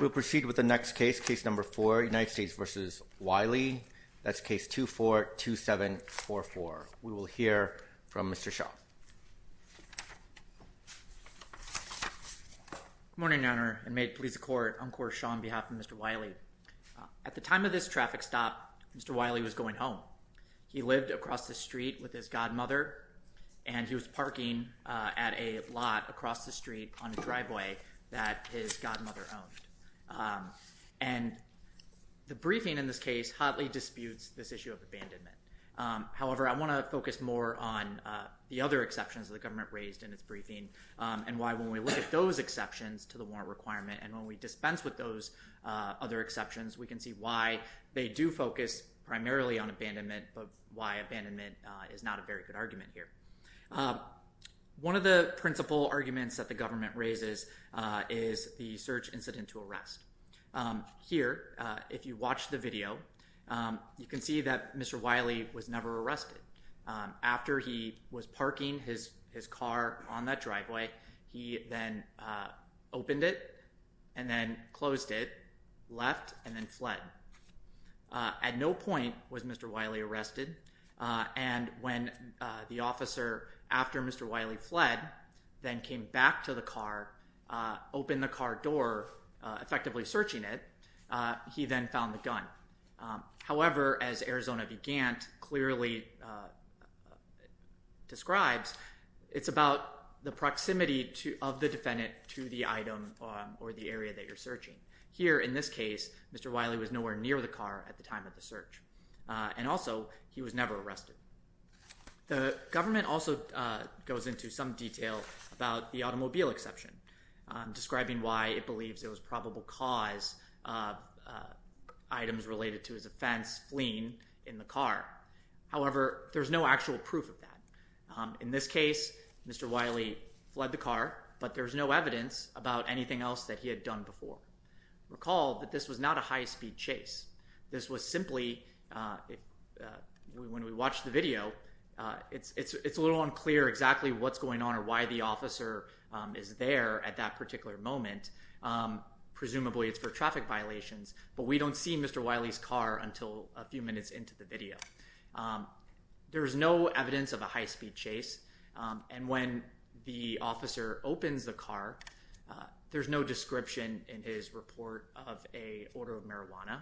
We'll proceed with the next case, case number four, United States v. Wiley. That's case 242744. We will hear from Mr. Shaw. Good morning, Your Honor, and may it please the Court, I'm Court Shaw on behalf of Mr. Wiley. At the time of this traffic stop, Mr. Wiley was going home. He lived across the street with his godmother, and he was parking at a lot across the street on a driveway that his godmother owned. And the briefing in this case hotly disputes this issue of abandonment. However, I want to focus more on the other exceptions that the government raised in its briefing and why when we look at those exceptions to the warrant requirement and when we dispense with those other exceptions, we can see why they do focus primarily on abandonment but why abandonment is not a very good argument here. One of the principal arguments that the government raises is the search incident to arrest. Here, if you watch the video, you can see that Mr. Wiley was never arrested. After he was parking his car on that driveway, he then opened it and then closed it, left, and then fled. At no point was Mr. Wiley arrested, and when the officer, after Mr. Wiley fled, then came back to the car, opened the car door, effectively searching it, he then found the gun. However, as Arizona began to clearly describe, it's about the proximity of the defendant to the item or the area that you're searching. Here, in this case, Mr. Wiley was nowhere near the car at the time of the search. And also, he was never arrested. The government also goes into some detail about the automobile exception, describing why it believes it was probable cause of items related to his offense fleeing in the car. However, there's no actual proof of that. In this case, Mr. Wiley fled the car, but there's no evidence about anything else that he had done before. Recall that this was not a high-speed chase. This was simply, when we watched the video, it's a little unclear exactly what's going on or why the officer is there at that particular moment. Presumably, it's for traffic violations, but we don't see Mr. Wiley's car until a few minutes into the video. There is no evidence of a high-speed chase, and when the officer opens the car, there's no description in his report of a order of marijuana,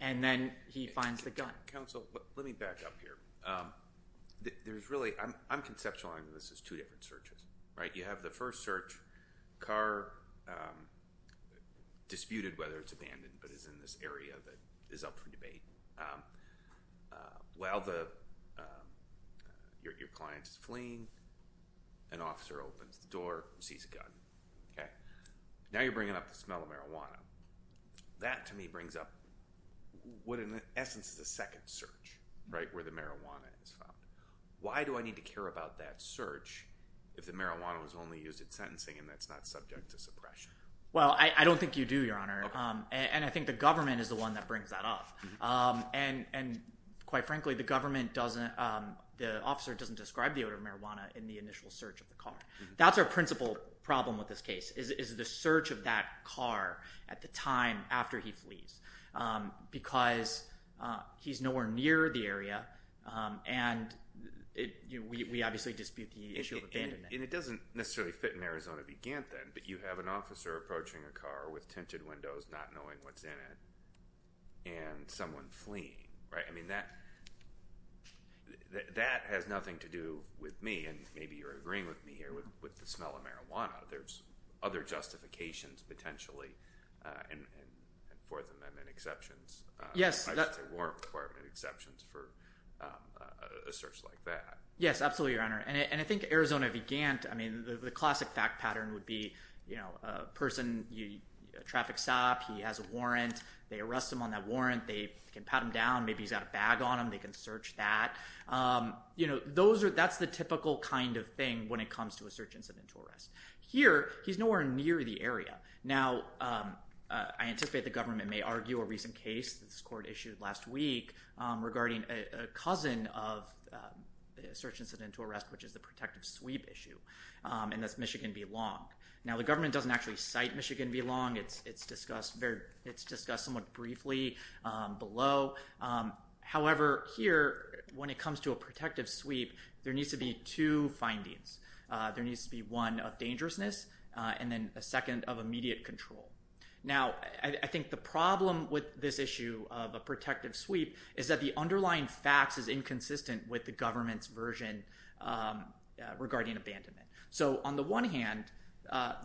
and then he finds the gun. Counsel, let me back up here. There's really—I'm conceptualizing this as two different searches, right? You have the first search, car disputed, whether it's abandoned, but it's in this area that is up for debate. While your client is fleeing, an officer opens the door and sees a gun. Now you're bringing up the smell of marijuana. That, to me, brings up what, in essence, is the second search, right, where the marijuana is found. Why do I need to care about that search if the marijuana was only used in sentencing and that's not subject to suppression? Well, I don't think you do, Your Honor, and I think the government is the one that brings that up. And quite frankly, the government doesn't—the officer doesn't describe the odor of marijuana in the initial search of the car. That's our principal problem with this case is the search of that car at the time after he flees because he's nowhere near the area, and we obviously dispute the issue of abandonment. And it doesn't necessarily fit in Arizona v. Gant then, but you have an officer approaching a car with tinted windows not knowing what's in it and someone fleeing, right? I mean, that has nothing to do with me, and maybe you're agreeing with me here with the smell of marijuana. There's other justifications, potentially, and Fourth Amendment exceptions. I'd say warrant requirement exceptions for a search like that. Yes, absolutely, Your Honor. And I think Arizona v. Gant, I mean, the classic fact pattern would be, you know, a person, a traffic stop, he has a warrant. They arrest him on that warrant. They can pat him down. Maybe he's got a bag on him. They can search that. You know, those are—that's the typical kind of thing when it comes to a search incident to arrest. Here, he's nowhere near the area. Now, I anticipate the government may argue a recent case that this court issued last week regarding a cousin of a search incident to arrest, which is the protective sweep issue, and that's Michigan v. Long. Now, the government doesn't actually cite Michigan v. Long. It's discussed somewhat briefly below. However, here, when it comes to a protective sweep, there needs to be two findings. There needs to be one of dangerousness and then a second of immediate control. Now, I think the problem with this issue of a protective sweep is that the underlying facts is inconsistent with the government's version regarding abandonment. So on the one hand,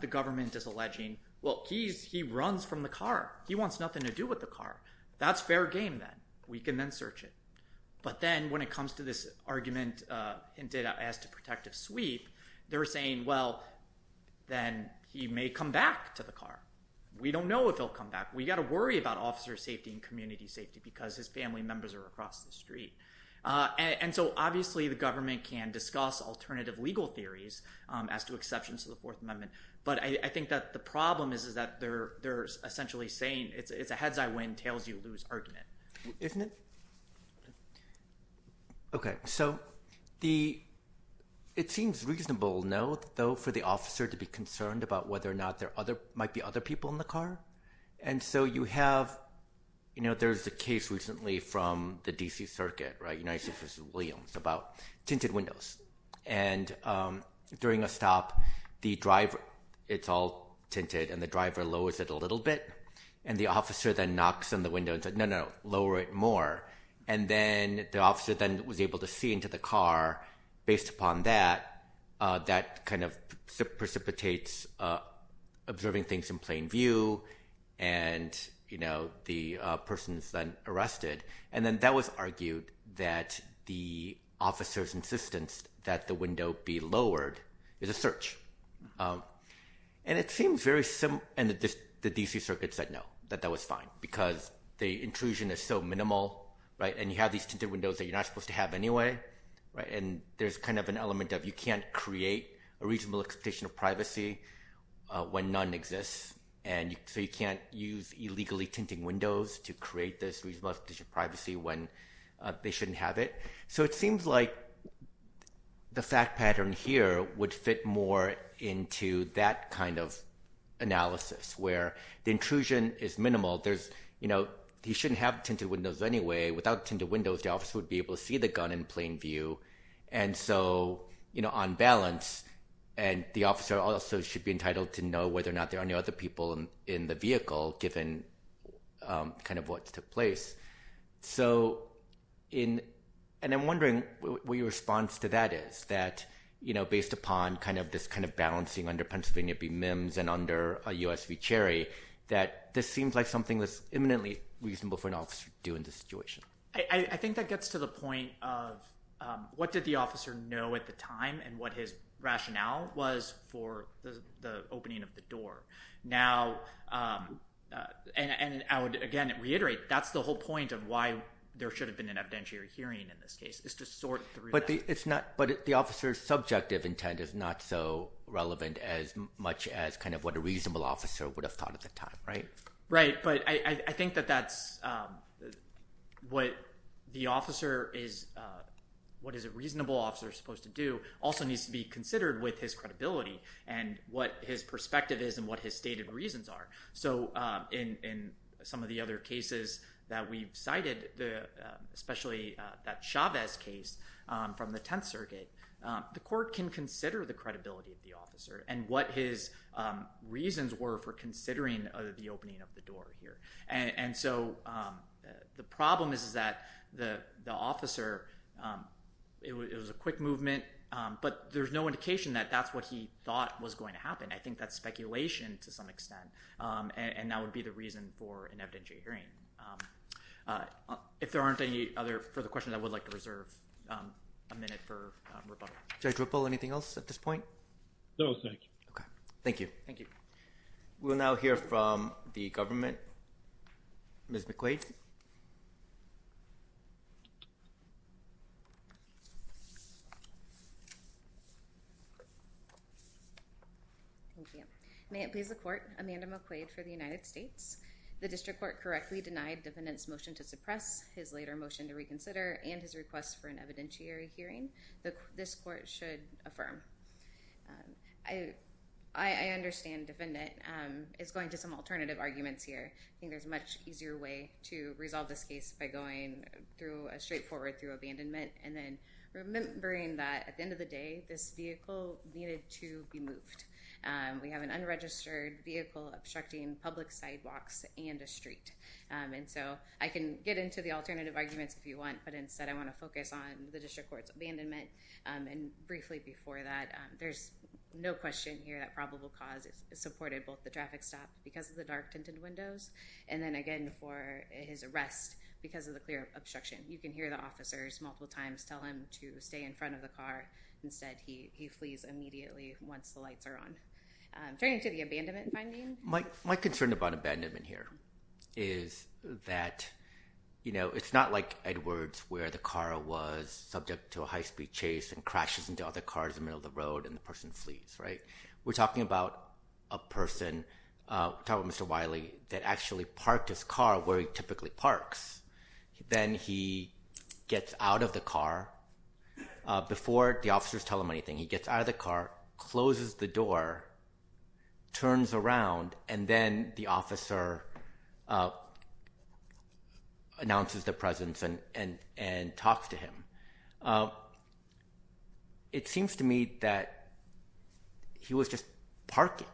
the government is alleging, well, he runs from the car. He wants nothing to do with the car. That's fair game then. We can then search it. But then when it comes to this argument hinted at as to protective sweep, they're saying, well, then he may come back to the car. We don't know if he'll come back. We've got to worry about officer safety and community safety because his family members are across the street. And so obviously, the government can discuss alternative legal theories as to exceptions to the Fourth Amendment. But I think that the problem is that they're essentially saying it's a heads-I-win, tails-you-lose argument. Isn't it? Okay, so it seems reasonable, no, though, for the officer to be concerned about whether or not there might be other people in the car. And so you have, you know, there's a case recently from the D.C. Circuit, right, United States versus Williams, about tinted windows. And during a stop, the driver, it's all tinted, and the driver lowers it a little bit. And the officer then knocks on the window and says, no, no, lower it more. And then the officer then was able to see into the car. Based upon that, that kind of precipitates observing things in plain view. And, you know, the person is then arrested. And then that was argued that the officer's insistence that the window be lowered is a search. And it seems very similar, and the D.C. Circuit said no, that that was fine, because the intrusion is so minimal, right, and you have these tinted windows that you're not supposed to have anyway, right, and there's kind of an element of you can't create a reasonable expectation of privacy when none exists. And so you can't use illegally tinting windows to create this reasonable expectation of privacy when they shouldn't have it. So it seems like the fact pattern here would fit more into that kind of analysis, where the intrusion is minimal. There's, you know, he shouldn't have tinted windows anyway. Without tinted windows, the officer would be able to see the gun in plain view. And so, you know, on balance, the officer also should be entitled to know whether or not there are any other people in the vehicle, given kind of what took place. So in—and I'm wondering what your response to that is, that, you know, based upon kind of this kind of balancing under Pennsylvania v. Mims and under U.S. v. Cherry, that this seems like something that's eminently reasonable for an officer to do in this situation. I think that gets to the point of what did the officer know at the time and what his rationale was for the opening of the door. Now—and I would, again, reiterate, that's the whole point of why there should have been an evidentiary hearing in this case, is to sort through that. But it's not—but the officer's subjective intent is not so relevant as much as kind of what a reasonable officer would have thought at the time, right? Right, but I think that that's—what the officer is—what a reasonable officer is supposed to do also needs to be considered with his credibility and what his perspective is and what his stated reasons are. So in some of the other cases that we've cited, especially that Chavez case from the Tenth Circuit, the court can consider the credibility of the officer and what his reasons were for considering the opening of the door here. And so the problem is that the officer—it was a quick movement, but there's no indication that that's what he thought was going to happen. I think that's speculation to some extent, and that would be the reason for an evidentiary hearing. If there aren't any other further questions, I would like to reserve a minute for rebuttal. Judge Whipple, anything else at this point? No, thank you. Okay, thank you. Thank you. We'll now hear from the government. Ms. McQuaid? Thank you. May it please the Court, Amanda McQuaid for the United States. The district court correctly denied the defendant's motion to suppress, his later motion to reconsider, and his request for an evidentiary hearing. This court should affirm. I understand, defendant. It's going to some alternative arguments here. I think there's a much easier way to resolve this case by going through a straightforward through abandonment and then remembering that at the end of the day, this vehicle needed to be moved. We have an unregistered vehicle obstructing public sidewalks and a street. And so I can get into the alternative arguments if you want, but instead I want to focus on the district court's abandonment. And briefly before that, there's no question here that probable cause supported both the traffic stop because of the dark tinted windows, and then again for his arrest because of the clear obstruction. You can hear the officers multiple times tell him to stay in front of the car. Instead, he flees immediately once the lights are on. Turning to the abandonment finding. My concern about abandonment here is that, you know, it's not like Edwards where the car was subject to a high-speed chase and crashes into other cars in the middle of the road and the person flees, right? We're talking about a person, we're talking about Mr. Wiley, that actually parked his car where he typically parks. Then he gets out of the car. Before the officers tell him anything, he gets out of the car, closes the door, turns around, and then the officer announces their presence and talks to him. It seems to me that he was just parking.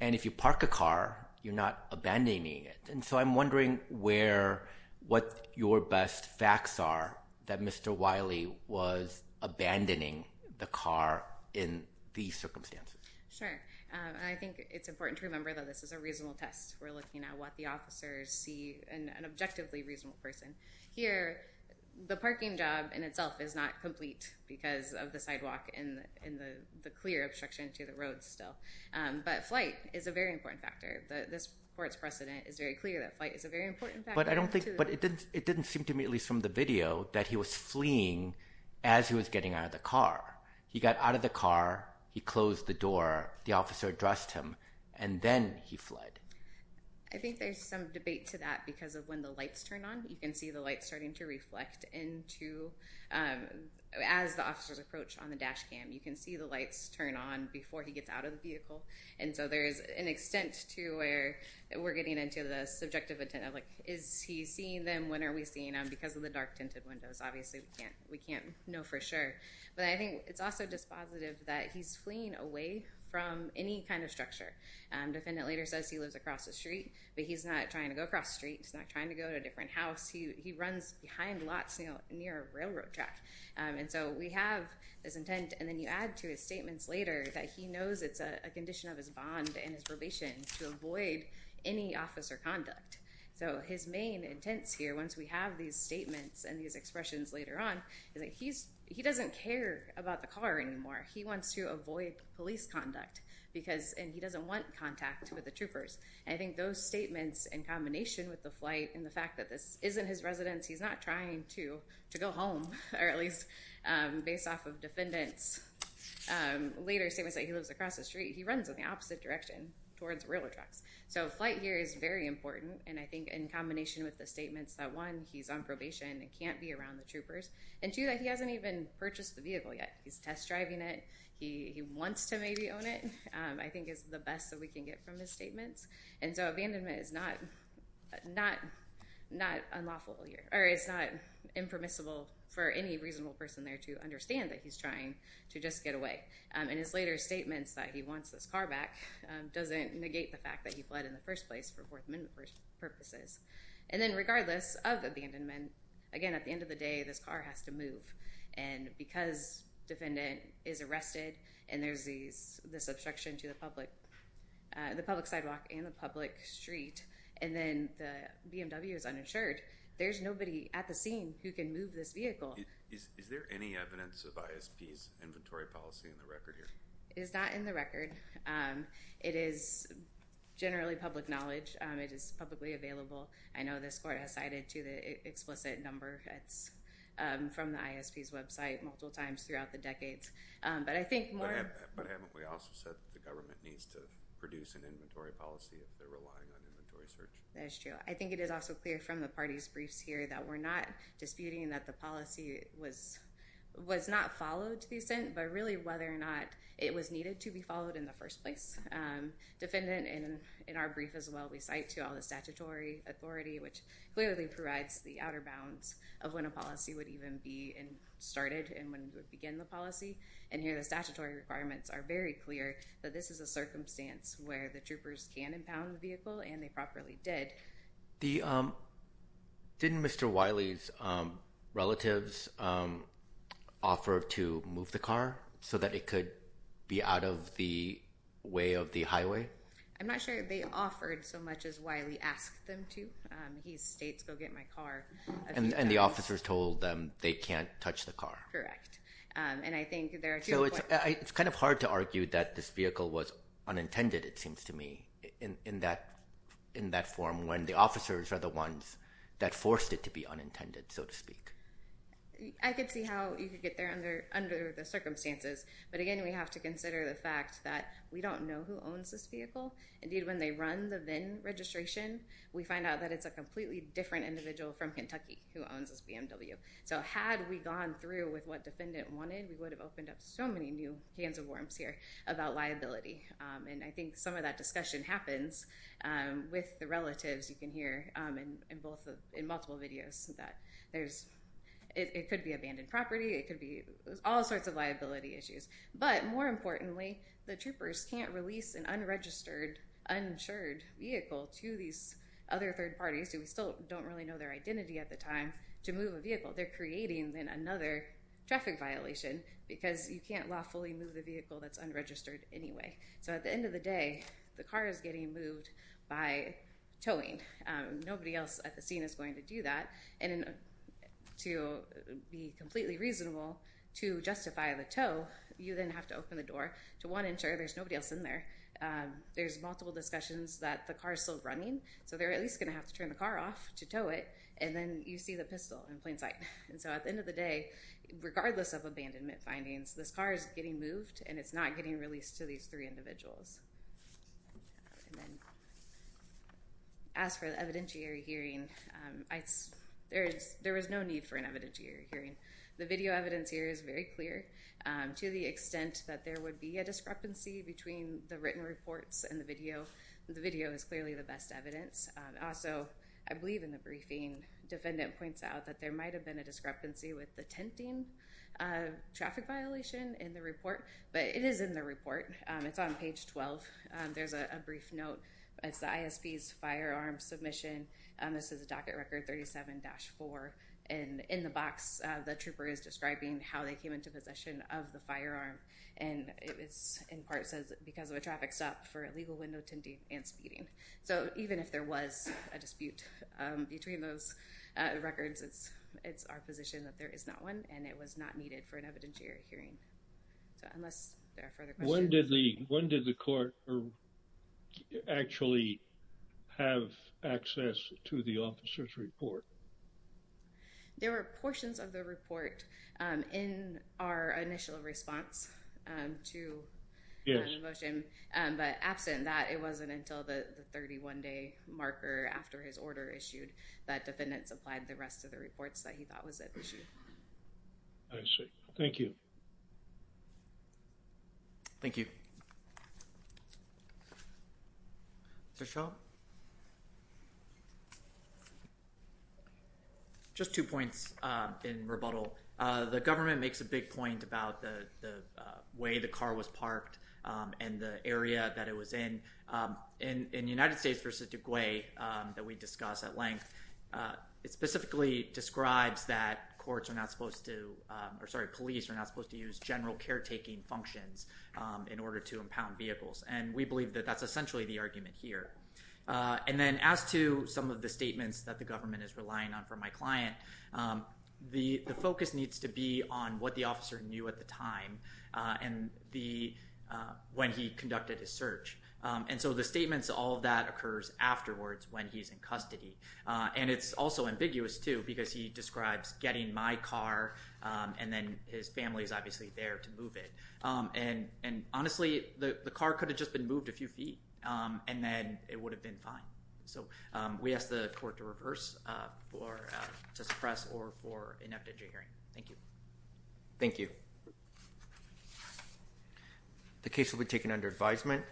And if you park a car, you're not abandoning it. And so I'm wondering what your best facts are that Mr. Wiley was abandoning the car in these circumstances. Sure. I think it's important to remember that this is a reasonable test. We're looking at what the officers see in an objectively reasonable person. Here, the parking job in itself is not complete because of the sidewalk and the clear obstruction to the road still. But flight is a very important factor. This court's precedent is very clear that flight is a very important factor. But it didn't seem to me, at least from the video, that he was fleeing as he was getting out of the car. He got out of the car, he closed the door, the officer addressed him, and then he fled. I think there's some debate to that because of when the lights turn on. You can see the lights starting to reflect as the officers approach on the dash cam. You can see the lights turn on before he gets out of the vehicle. And so there's an extent to where we're getting into the subjective intent of, like, is he seeing them? When are we seeing them? Because of the dark tinted windows, obviously we can't know for sure. But I think it's also dispositive that he's fleeing away from any kind of structure. Defendant later says he lives across the street, but he's not trying to go across the street. He's not trying to go to a different house. He runs behind lots near a railroad track. And so we have this intent, and then you add to his statements later that he knows it's a condition of his bond and his probation to avoid any officer conduct. So his main intents here, once we have these statements and these expressions later on, is that he doesn't care about the car anymore. He wants to avoid police conduct, and he doesn't want contact with the troopers. And I think those statements in combination with the flight and the fact that this isn't his residence, he's not trying to go home, or at least based off of defendant's later statements that he lives across the street, he runs in the opposite direction towards railroad tracks. So flight here is very important, and I think in combination with the statements that, one, he's on probation and can't be around the troopers, and, two, that he hasn't even purchased the vehicle yet. He's test driving it. He wants to maybe own it, I think is the best that we can get from his statements. And so abandonment is not unlawful or it's not impermissible for any reasonable person there to understand that he's trying to just get away. And his later statements that he wants this car back doesn't negate the fact that he fled in the first place for Fourth Amendment purposes. And then regardless of abandonment, again, at the end of the day, this car has to move. And because defendant is arrested and there's this obstruction to the public sidewalk and the public street, and then the BMW is uninsured, there's nobody at the scene who can move this vehicle. Is there any evidence of ISP's inventory policy in the record here? It's not in the record. It is generally public knowledge. It is publicly available. I know this court has cited to the explicit number that's from the ISP's website multiple times throughout the decades. But I think more of- But haven't we also said the government needs to produce an inventory policy if they're relying on inventory search? That is true. I think it is also clear from the party's briefs here that we're not disputing that the policy was not followed to the extent, but really whether or not it was needed to be followed in the first place. Defendant, in our brief as well, we cite to all the statutory authority, which clearly provides the outer bounds of when a policy would even be started and when it would begin the policy. And here the statutory requirements are very clear that this is a circumstance where the troopers can impound the vehicle, and they properly did. Didn't Mr. Wiley's relatives offer to move the car so that it could be out of the way of the highway? I'm not sure they offered so much as Wiley asked them to. He states, go get my car. And the officers told them they can't touch the car. Correct. And I think there are two- So it's kind of hard to argue that this vehicle was unintended, it seems to me, in that form, when the officers are the ones that forced it to be unintended, so to speak. I could see how you could get there under the circumstances. But again, we have to consider the fact that we don't know who owns this vehicle. Indeed, when they run the VIN registration, we find out that it's a completely different individual from Kentucky who owns this BMW. So had we gone through with what defendant wanted, we would have opened up so many new cans of worms here about liability. And I think some of that discussion happens with the relatives, you can hear in multiple videos, that it could be abandoned property, it could be all sorts of liability issues. But more importantly, the troopers can't release an unregistered, uninsured vehicle to these other third parties, who we still don't really know their identity at the time, to move a vehicle. They're creating then another traffic violation because you can't lawfully move a vehicle that's unregistered anyway. So at the end of the day, the car is getting moved by towing. Nobody else at the scene is going to do that. And to be completely reasonable, to justify the tow, you then have to open the door to one insurer. There's nobody else in there. There's multiple discussions that the car is still running, so they're at least going to have to turn the car off to tow it, and then you see the pistol in plain sight. And so at the end of the day, regardless of abandonment findings, this car is getting moved, and it's not getting released to these three individuals. As for the evidentiary hearing, there is no need for an evidentiary hearing. The video evidence here is very clear. To the extent that there would be a discrepancy between the written reports and the video, the video is clearly the best evidence. Also, I believe in the briefing, defendant points out that there might have been a discrepancy with the tenting traffic violation in the report, but it is in the report. It's on page 12. There's a brief note. It's the ISP's firearm submission. This is a docket record 37-4. And in the box, the trooper is describing how they came into possession of the firearm, and it in part says because of a traffic stop for illegal window tenting and speeding. So even if there was a dispute between those records, it's our position that there is not one, and it was not needed for an evidentiary hearing. So unless there are further questions. When did the court actually have access to the officer's report? There were portions of the report in our initial response to the motion, but absent that, it wasn't until the 31-day marker after his order issued that defendant supplied the rest of the reports that he thought was at issue. I see. Thank you. Thank you. Treshelle? Just two points in rebuttal. The government makes a big point about the way the car was parked and the area that it was in. In United States v. De Guay that we discussed at length, it specifically describes that courts are not supposed to, or sorry, police are not supposed to use general caretaking functions in order to impound vehicles, and we believe that that's essentially the argument here. And then as to some of the statements that the government is relying on from my client, the focus needs to be on what the officer knew at the time when he conducted his search. And so the statements, all of that occurs afterwards when he's in custody. And it's also ambiguous, too, because he describes getting my car, and then his family is obviously there to move it. And honestly, the car could have just been moved a few feet, and then it would have been fine. So we ask the court to reverse, to suppress, or for an after-judge hearing. Thank you. Thank you. The case will be taken under advisement.